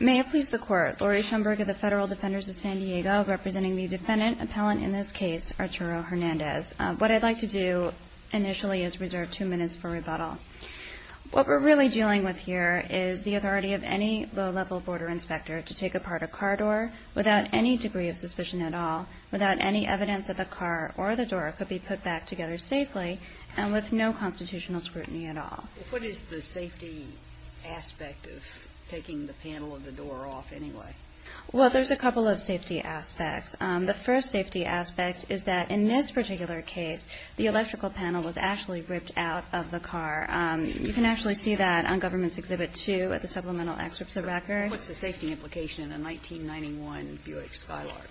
May it please the Court, Laurie Schoenberg of the Federal Defenders of San Diego, representing the defendant, appellant in this case, Arturo Hernandez. What I'd like to do initially is reserve two minutes for rebuttal. What we're really dealing with here is the authority of any low-level border inspector to take apart a car door without any degree of suspicion at all, without any evidence that the car or the door could be put back together safely, and with no constitutional scrutiny at all. What is the safety aspect of taking the panel of the door off anyway? Well, there's a couple of safety aspects. The first safety aspect is that in this particular case, the electrical panel was actually ripped out of the car. You can actually see that on Government's Exhibit 2 at the Supplemental Excerpts of Record. What's the safety implication in a 1991 Buick Skylark?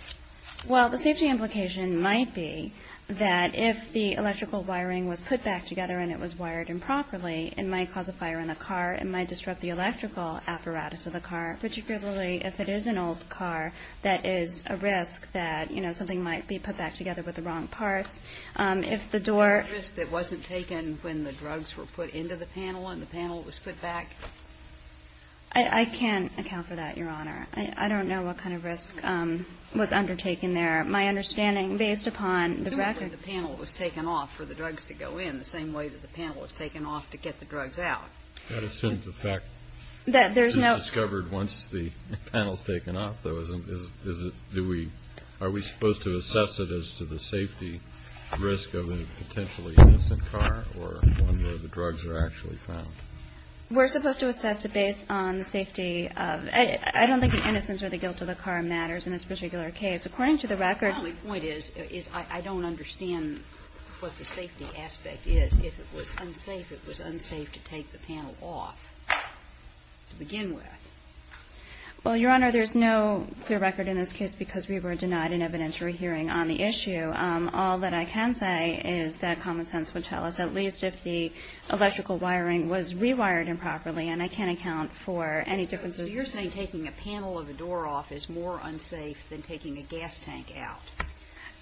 Well, the safety implication might be that if the electrical wiring was put back together and it was wired improperly, it might cause a fire in the car. It might disrupt the electrical apparatus of the car, particularly if it is an old car. That is a risk that, you know, something might be put back together with the wrong parts. If the door… Is there a risk that wasn't taken when the drugs were put into the panel and the panel was put back? I can't account for that, Your Honor. I don't know what kind of risk was undertaken there. My understanding, based upon the record… It's not that the panel was taken off for the drugs to go in the same way that the panel was taken off to get the drugs out. That is to the effect… That there's no…… that it was discovered once the panel was taken off. Is it… do we… are we supposed to assess it as to the safety risk of a potentially innocent car or one where the drugs are actually found? We're supposed to assess it based on the safety of… I don't think the innocence or the guilt of the car matters in this particular case. According to the record… My point is I don't understand what the safety aspect is. If it was unsafe, it was unsafe to take the panel off to begin with. Well, Your Honor, there's no clear record in this case because we were denied an evidentiary hearing on the issue. All that I can say is that common sense would tell us at least if the electrical wiring was rewired improperly, and I can't account for any differences… So you're saying taking a panel of a door off is more unsafe than taking a gas tank out?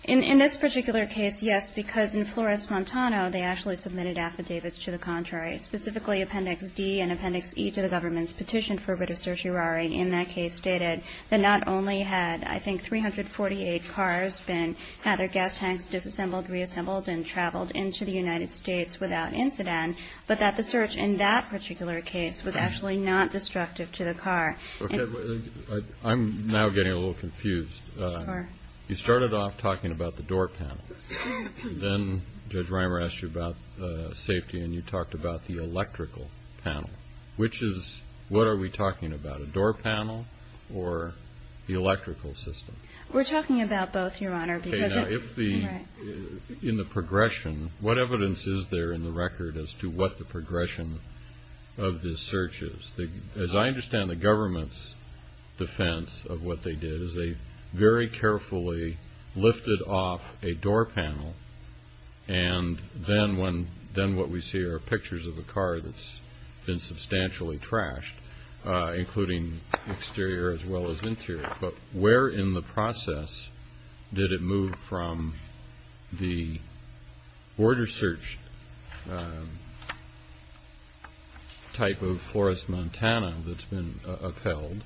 In this particular case, yes, because in Flores-Montano, they actually submitted affidavits to the contrary, specifically Appendix D and Appendix E to the government's petition for a bit of search wiring. And that case stated that not only had, I think, 348 cars been… had their gas tanks disassembled, reassembled, and traveled into the United States without incident, but that the search in that particular case was actually not destructive to the car. Okay. I'm now getting a little confused. Sure. You started off talking about the door panel. Then Judge Reimer asked you about safety, and you talked about the electrical panel, which is… what are we talking about, a door panel or the electrical system? We're talking about both, Your Honor, because… Okay. Now, if the… in the progression, what evidence is there in the record as to what the progression of this search is? As I understand the government's defense of what they did is they very carefully lifted off a door panel, and then when… then what we see are pictures of a car that's been substantially trashed, including exterior as well as interior. But where in the process did it move from the border search type of Flores, Montana that's been upheld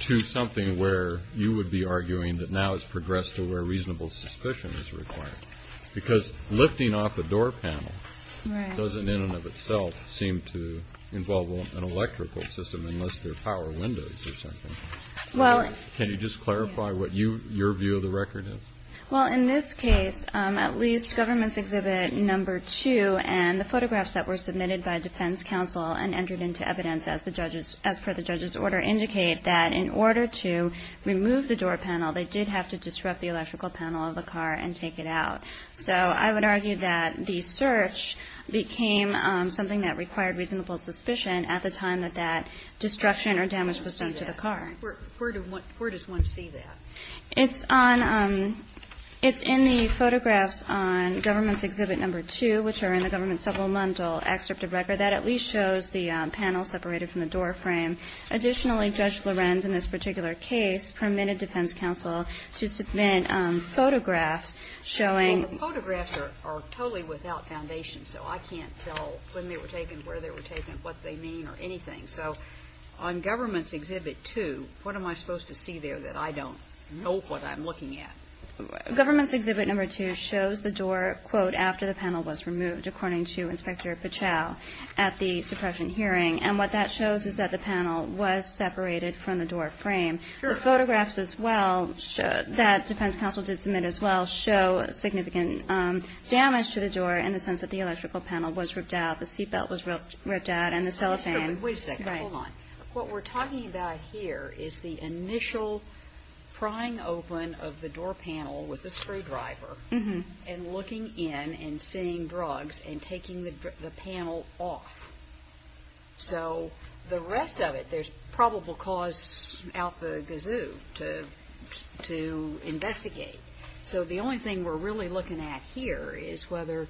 to something where you would be arguing that now it's progressed to where reasonable suspicion is required? Because lifting off a door panel doesn't in and of itself seem to involve an electrical system unless they're power windows or something. Well… Can you just clarify what you… your view of the record is? Well, in this case, at least government's exhibit number two and the photographs that were submitted by defense counsel and entered into evidence as the judges… as per the judge's order indicate that in order to remove the door panel, they did have to disrupt the electrical panel of the car and take it out. So I would argue that the search became something that required reasonable suspicion at the time that that destruction or damage was done to the car. Where does one see that? It's on… it's in the photographs on government's exhibit number two, which are in the government's supplemental excerpt of record. That at least shows the panel separated from the door frame. Additionally, Judge Lorenz in this particular case permitted defense counsel to submit photographs showing… Well, the photographs are totally without foundation, so I can't tell when they were taken, where they were taken, what they mean or anything. So on government's exhibit two, what am I supposed to see there that I don't know what I'm looking at? Government's exhibit number two shows the door, quote, after the panel was removed according to Inspector Pichow at the suppression hearing. And what that shows is that the panel was separated from the door frame. Sure. And the photographs, as well, that defense counsel did submit, as well, show significant damage to the door in the sense that the electrical panel was ripped out, the seat belt was ripped out, and the cellophane. Wait a second. Hold on. What we're talking about here is the initial prying open of the door panel with the screwdriver and looking in and seeing drugs and taking the panel off. So the rest of it, there's probable cause out the gazoo to investigate. So the only thing we're really looking at here is whether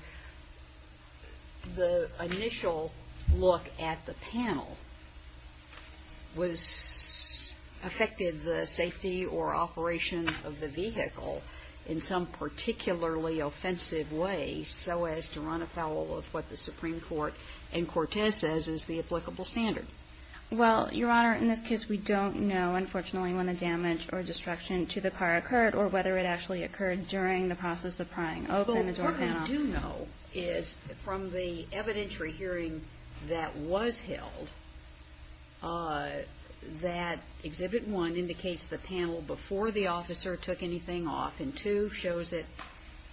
the initial look at the panel affected the safety or operation of the vehicle in some particularly offensive way so as to run afoul of what the Supreme Court and Cortez says is the applicable standard. Well, Your Honor, in this case, we don't know, unfortunately, when the damage or destruction to the car occurred or whether it actually occurred during the process of prying open the door panel. Well, what we do know is from the evidentiary hearing that was held, that exhibit one indicates the panel before the officer took anything off and exhibit two shows it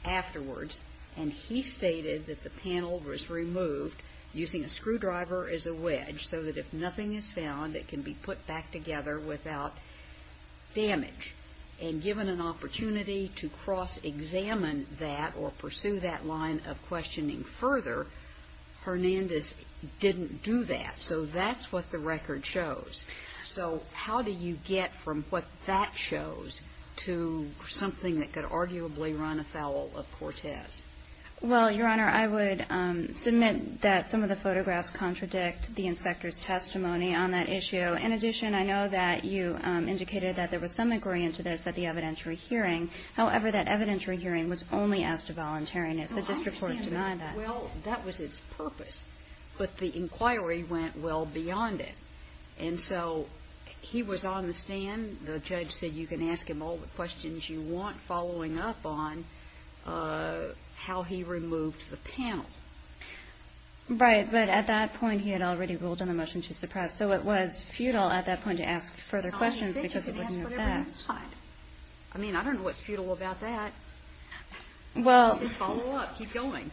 afterwards. And he stated that the panel was removed using a screwdriver as a wedge so that if nothing is found, it can be put back together without damage. And given an opportunity to cross-examine that or pursue that line of questioning further, Hernandez didn't do that. So that's what the record shows. So how do you get from what that shows to something that could arguably run afoul of Cortez? Well, Your Honor, I would submit that some of the photographs contradict the inspector's testimony on that issue. In addition, I know that you indicated that there was some agreement to this at the evidentiary hearing. However, that evidentiary hearing was only asked to voluntariness. The district court denied that. Well, that was its purpose. But the inquiry went well beyond it. And so he was on the stand. The judge said you can ask him all the questions you want, following up on how he removed the panel. Right. But at that point he had already ruled on a motion to suppress. So it was futile at that point to ask further questions because it wasn't that bad. I mean, I don't know what's futile about that. Follow up. Keep going.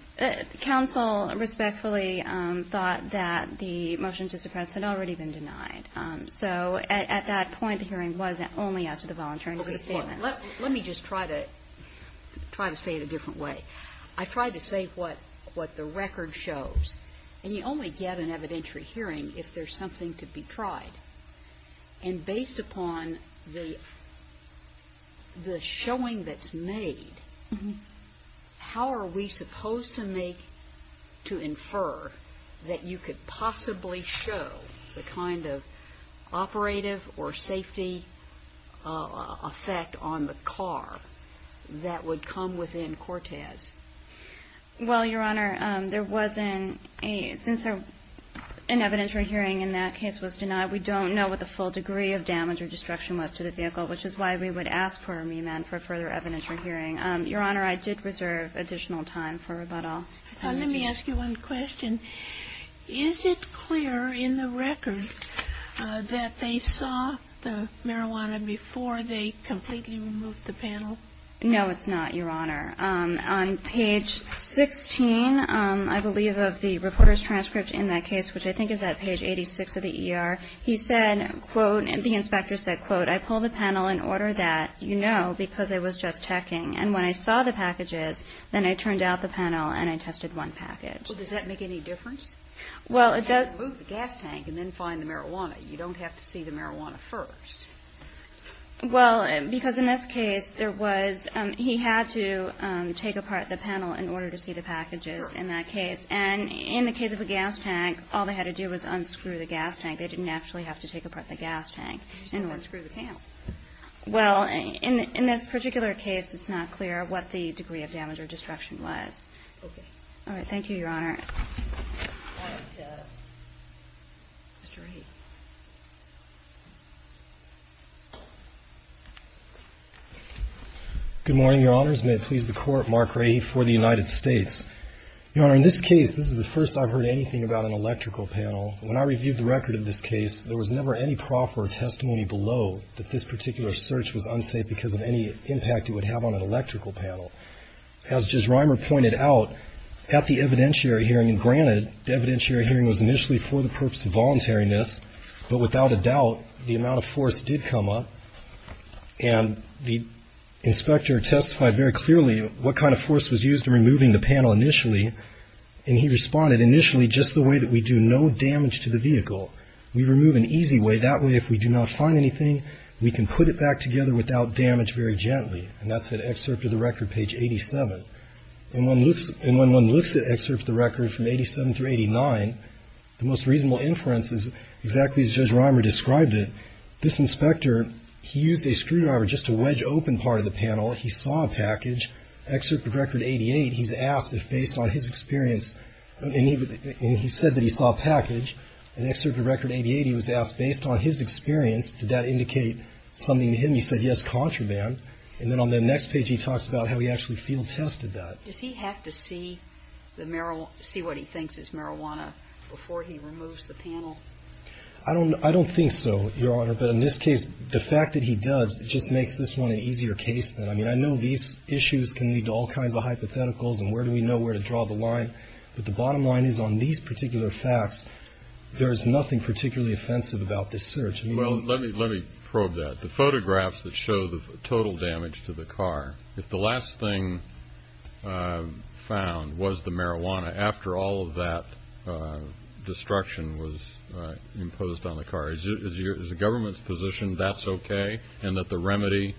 Counsel respectfully thought that the motion to suppress had already been denied. So at that point the hearing was only asked to the voluntariness of the statement. Let me just try to say it a different way. I tried to say what the record shows. And you only get an evidentiary hearing if there's something to be tried. And based upon the showing that's made, how are we supposed to make to infer that you could possibly show the kind of operative or safety effect on the car that would come within Cortez? Well, Your Honor, there wasn't a since an evidentiary hearing in that case was denied, we don't know what the full degree of damage or destruction was to the vehicle, which is why we would ask for a remand for a further evidentiary hearing. Your Honor, I did reserve additional time for rebuttal. Let me ask you one question. Is it clear in the record that they saw the marijuana before they completely removed the panel? No, it's not, Your Honor. On page 16, I believe, of the reporter's transcript in that case, which I think is at page 86 of the ER, he said, quote, and the inspector said, quote, I pulled the panel in order that you know because I was just checking. And when I saw the packages, then I turned out the panel and I tested one package. Well, does that make any difference? Well, it does. You can't move the gas tank and then find the marijuana. You don't have to see the marijuana first. Well, because in this case, there was he had to take apart the panel in order to see the packages in that case. And in the case of the gas tank, all they had to do was unscrew the gas tank. They didn't actually have to take apart the gas tank in order to see the panel. Well, in this particular case, it's not clear what the degree of damage or destruction was. Okay. All right. Thank you, Your Honor. All right. Mr. Rahe. Good morning, Your Honors. May it please the Court, Mark Rahe for the United States. Your Honor, in this case, this is the first I've heard anything about an electrical panel. When I reviewed the record of this case, there was never any proff or testimony below that this particular search was unsafe because of any impact it would have on an electrical panel. As Judge Reimer pointed out, at the evidentiary hearing, and granted, the evidentiary hearing was initially for the purpose of voluntariness, but without a doubt, the amount of force did come up. And the inspector testified very clearly what kind of force was used in removing the panel initially. And he responded, initially, just the way that we do no damage to the vehicle. We remove in an easy way. That way, if we do not find anything, we can put it back together without damage very gently. And that's at excerpt of the record, page 87. And when one looks at excerpt of the record from 87 through 89, the most reasonable inference is exactly as Judge Reimer described it. This inspector, he used a screwdriver just to wedge open part of the panel. He saw a package. Excerpt of record 88, he's asked if based on his experience, and he said that he saw a package. And excerpt of record 88, he was asked, based on his experience, did that indicate something to him? He said, yes, contraband. And then on the next page, he talks about how he actually field tested that. Does he have to see what he thinks is marijuana before he removes the panel? I don't think so. Your Honor, but in this case, the fact that he does just makes this one an easier case. I mean, I know these issues can lead to all kinds of hypotheticals. And where do we know where to draw the line? But the bottom line is, on these particular facts, there is nothing particularly offensive about this search. Well, let me let me probe that. The photographs that show the total damage to the car, if the last thing found was the marijuana, after all of that destruction was imposed on the car, is the government's position that's okay? And that the remedy,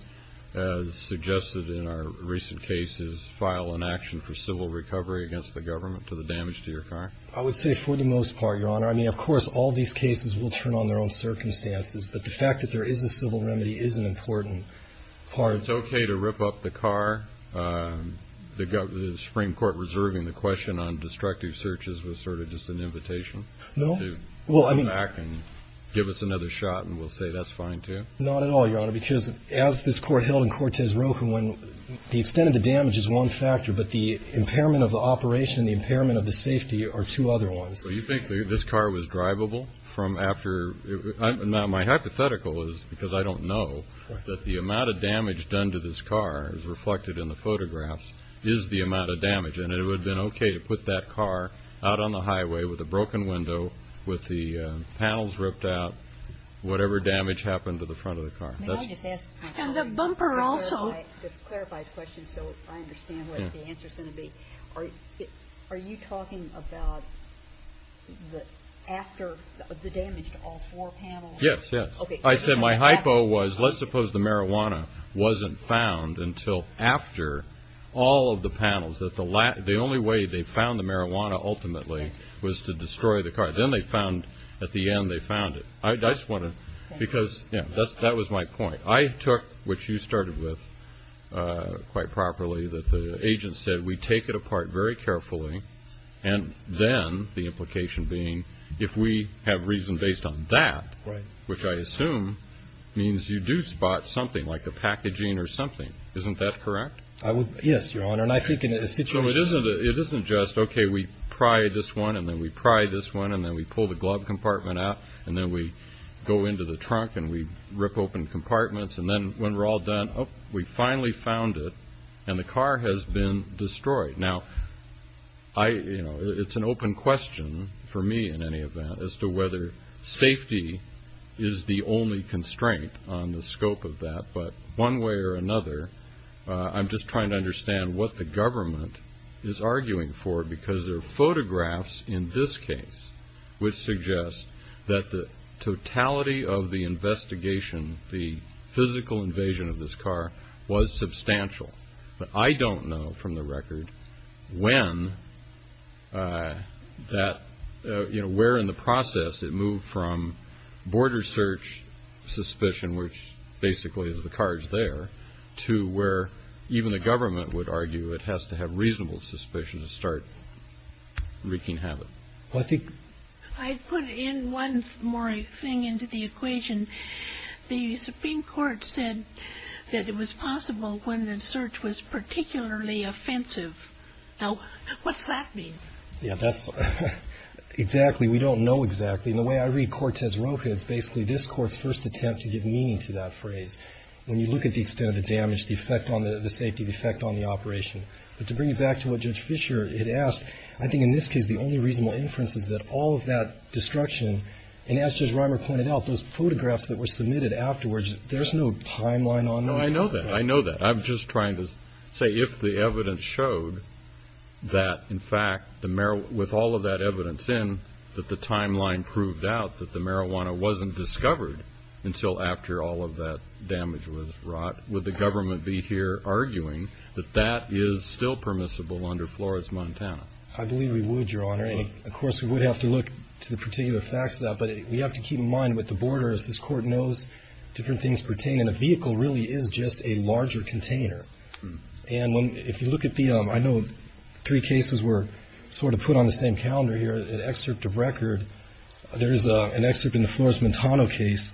as suggested in our recent cases, file an action for civil recovery against the government to the damage to your car? I would say for the most part, Your Honor. I mean, of course, all these cases will turn on their own circumstances. But the fact that there is a civil remedy is an important part. It's okay to rip up the car? The Supreme Court reserving the question on destructive searches was sort of just an invitation. No? Well, I mean. To come back and give us another shot, and we'll say that's fine, too? Not at all, Your Honor, because as this Court held in Cortez Rojo, when the extent of the damage is one factor, but the impairment of the operation and the impairment of the safety are two other ones. So you think this car was drivable from after? Now, my hypothetical is, because I don't know, that the amount of damage done to this car, as reflected in the photographs, is the amount of damage. And it would have been okay to put that car out on the highway with a broken window, with the panels ripped out, whatever damage happened to the front of the car. And the bumper also. To clarify his question so I understand what the answer is going to be, are you talking about after the damage to all four panels? Yes, yes. I said my hypo was, let's suppose the marijuana wasn't found until after all of the panels, that the only way they found the marijuana ultimately was to destroy the car. Then they found, at the end, they found it. I just want to, because, you know, that was my point. I took, which you started with quite properly, that the agent said, we take it apart very carefully, and then, the implication being, if we have reason based on that, which I assume means you do spot something, like a packaging or something. Isn't that correct? Yes, Your Honor. And I think in a situation. So it isn't just, okay, we pry this one, and then we pry this one, and then we pull the glove compartment out, and then we go into the trunk and we rip open compartments, and then when we're all done, oh, we finally found it, and the car has been destroyed. Now, you know, it's an open question for me, in any event, as to whether safety is the only constraint on the scope of that. But one way or another, I'm just trying to understand what the government is arguing for, because there are photographs in this case which suggest that the totality of the investigation, the physical invasion of this car, was substantial. But I don't know from the record when that, you know, where in the process it moved from border search suspicion, which basically is the cars there, to where even the government would argue it has to have reasonable suspicion to start wreaking havoc. Well, I think. I'd put in one more thing into the equation. The Supreme Court said that it was possible when the search was particularly offensive. Now, what's that mean? Yeah, that's exactly. We don't know exactly. And the way I read Cortez Rocha, it's basically this court's first attempt to give meaning to that phrase. When you look at the extent of the damage, the effect on the safety, the effect on the operation. But to bring you back to what Judge Fischer had asked, I think in this case, the only reasonable inference is that all of that destruction, and as Judge Reimer pointed out, those photographs that were submitted afterwards, there's no timeline on them. No, I know that. I know that. I'm just trying to say if the evidence showed that, in fact, with all of that evidence in, that the timeline proved out that the marijuana wasn't discovered until after all of that damage was wrought, would the government be here arguing that that is still permissible under Flores, Montana? I believe we would, Your Honor. And, of course, we would have to look to the particular facts of that. But we have to keep in mind with the border, as this Court knows, different things pertain. And a vehicle really is just a larger container. And if you look at the ‑‑ I know three cases were sort of put on the same calendar here. An excerpt of record, there's an excerpt in the Flores, Montana case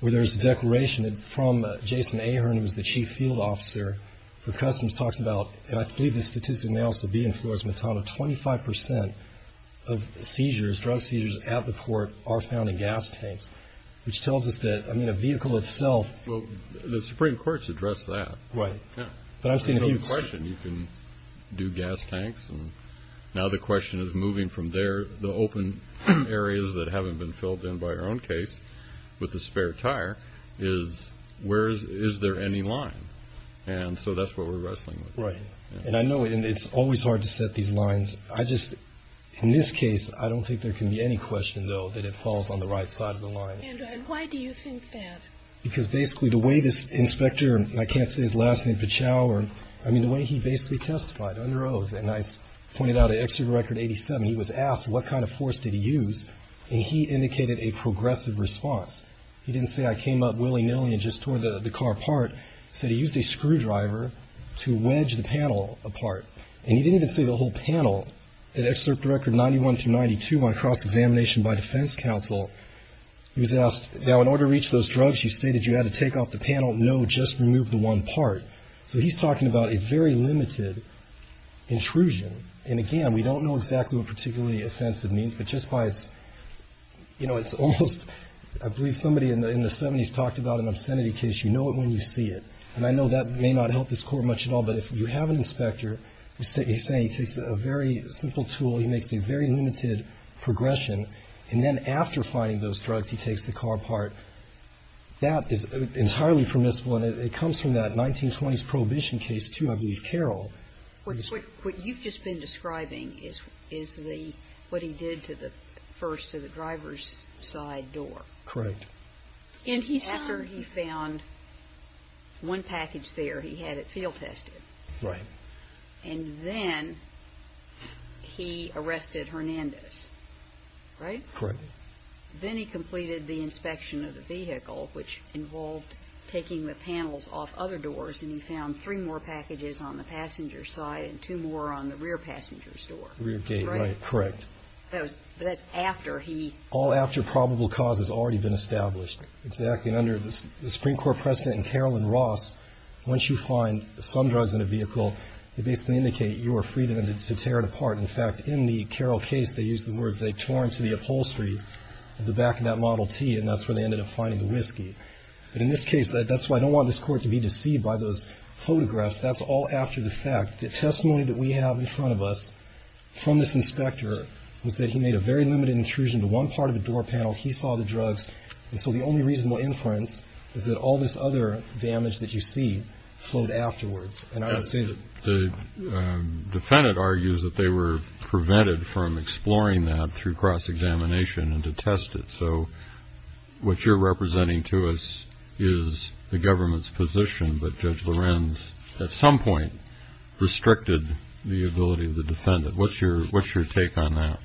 where there's a declaration from Jason Ahern, who was the chief field officer for Customs, talks about, and I believe the statistic may also be in Flores, Montana, 25% of seizures, drug seizures at the port are found in gas tanks, which tells us that, I mean, a vehicle itself. Well, the Supreme Court's addressed that. Right. But I've seen it used. You can do gas tanks, and now the question is moving from there. The open areas that haven't been filled in by our own case with the spare tire is where is there any line? And so that's what we're wrestling with. Right. And I know it's always hard to set these lines. I just, in this case, I don't think there can be any question, though, that it falls on the right side of the line. And why do you think that? Because basically the way this inspector, and I can't say his last name, Pachow, I mean, the way he basically testified under oath, and I pointed out an excerpt of record 87, he was asked what kind of force did he use, and he indicated a progressive response. He didn't say I came up willy‑nilly and just tore the car apart. He said he used a screwdriver to wedge the panel apart. And he didn't even say the whole panel. In excerpt record 91 through 92 on cross‑examination by defense counsel, he was asked, now, in order to reach those drugs, you stated you had to take off the panel. No, just remove the one part. So he's talking about a very limited intrusion. And, again, we don't know exactly what particularly offensive means, but just by its, you know, it's almost, I believe somebody in the 70s talked about an obscenity case. You know it when you see it. And I know that may not help this Court much at all, but if you have an inspector who's saying he takes a very simple tool, he makes a very limited progression, and then after finding those drugs, he takes the car apart, that is entirely permissible. And it comes from that 1920s prohibition case, too, I believe, Carroll. What you've just been describing is what he did to the first, to the driver's side door. Correct. And after he found one package there, he had it field tested. Right. And then he arrested Hernandez, right? Correct. Then he completed the inspection of the vehicle, which involved taking the panels off other doors, and he found three more packages on the passenger's side and two more on the rear passenger's door. Rear gate, right. Correct. But that's after he. All after probable cause has already been established. Exactly. And under the Supreme Court precedent in Carroll and Ross, once you find some drugs in a vehicle, they basically indicate your freedom to tear it apart. In fact, in the Carroll case, they used the words they tore into the upholstery at the back of that Model T, and that's where they ended up finding the whiskey. But in this case, that's why I don't want this court to be deceived by those photographs. That's all after the fact. The testimony that we have in front of us from this inspector was that he made a very limited intrusion to one part of the door panel. He saw the drugs. And so the only reasonable inference is that all this other damage that you see flowed afterwards. And I would say that. The defendant argues that they were prevented from exploring that through cross-examination and to test it. So what you're representing to us is the government's position. But Judge Lorenz, at some point, restricted the ability of the defendant. What's your take on that?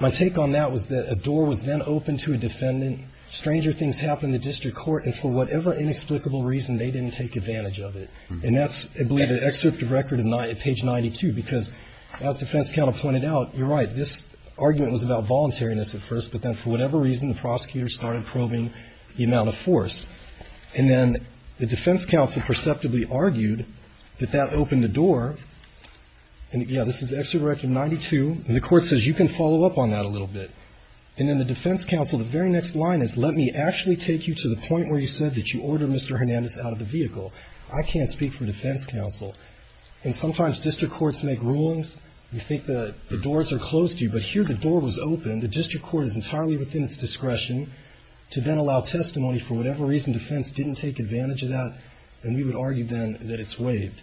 My take on that was that a door was then opened to a defendant. Stranger things happened in the district court. And for whatever inexplicable reason, they didn't take advantage of it. And that's, I believe, an excerpt of record at page 92. Because as defense counsel pointed out, you're right, this argument was about voluntariness at first. But then for whatever reason, the prosecutor started probing the amount of force. And then the defense counsel perceptibly argued that that opened the door. And, yeah, this is excerpt from 92. And the court says, you can follow up on that a little bit. And then the defense counsel, the very next line is, let me actually take you to the point where you said that you ordered Mr. Hernandez out of the vehicle. I can't speak for defense counsel. And sometimes district courts make rulings. You think the doors are closed to you. But here the door was open. The district court is entirely within its discretion to then allow testimony. For whatever reason, defense didn't take advantage of that. And we would argue then that it's waived.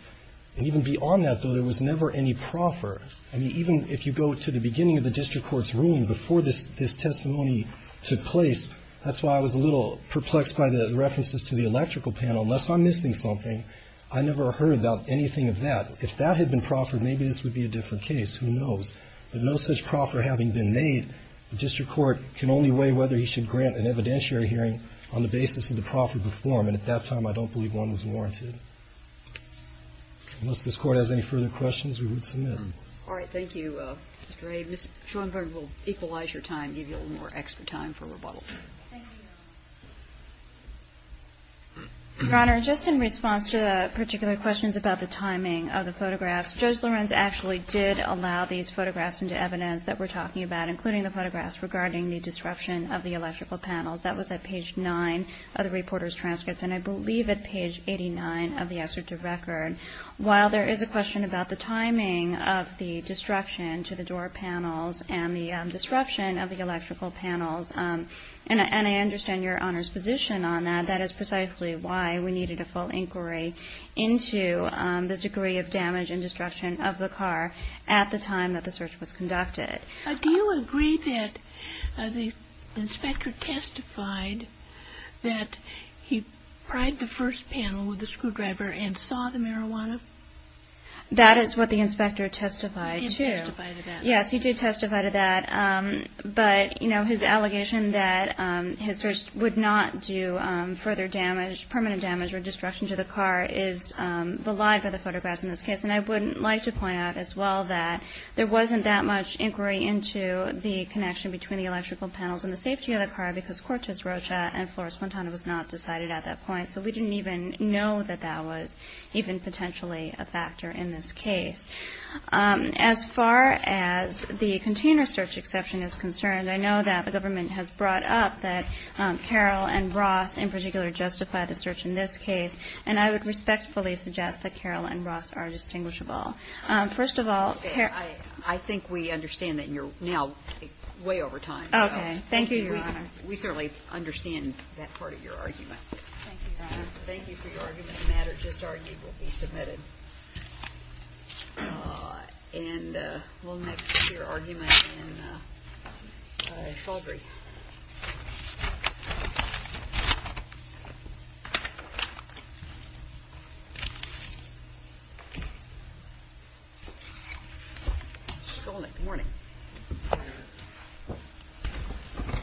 And even beyond that, though, there was never any proffer. I mean, even if you go to the beginning of the district court's ruling before this testimony took place, that's why I was a little perplexed by the references to the electrical panel. Unless I'm missing something, I never heard about anything of that. If that had been proffered, maybe this would be a different case. Who knows? But no such proffer having been made, the district court can only weigh whether he should grant an evidentiary hearing on the basis of the proffer before him. And at that time, I don't believe one was warranted. Unless this Court has any further questions, we would submit them. All right. Thank you, Mr. Ray. Ms. Schoenberg will equalize your time, give you a little more extra time for rebuttal. Thank you, Your Honor. Your Honor, just in response to the particular questions about the timing of the photographs, Judge Lorenz actually did allow these photographs into evidence that we're talking about, including the photographs regarding the disruption of the electrical panels. That was at page 9 of the reporter's transcript, and I believe at page 89 of the excerpt of record. While there is a question about the timing of the disruption to the door panels and the disruption of the electrical panels, and I understand Your Honor's position on that, that is precisely why we needed a full inquiry into the degree of damage and destruction of the car at the time that the search was conducted. Do you agree that the inspector testified that he pried the first panel with a screwdriver and saw the marijuana? That is what the inspector testified to. He testified to that. Yes, he did testify to that. But his allegation that his search would not do further damage, permanent damage or destruction to the car is belied by the photographs in this case. And I would like to point out as well that there wasn't that much inquiry into the connection between the electrical panels and the safety of the car because Cortez Rocha and Flores Fontana was not decided at that point, so we didn't even know that that was even potentially a factor in this case. As far as the container search exception is concerned, I know that the government has brought up that Carroll and Ross in particular justified the search in this case, and I would respectfully suggest that Carroll and Ross are distinguishable. First of all, Carroll and Ross are distinguishable. Okay. I think we understand that you're now way over time. Okay. Thank you, Your Honor. We certainly understand that part of your argument. Thank you, Your Honor. Thank you for your argument. The matter just argued will be submitted. And we'll next hear argument in Sheldry. Good morning.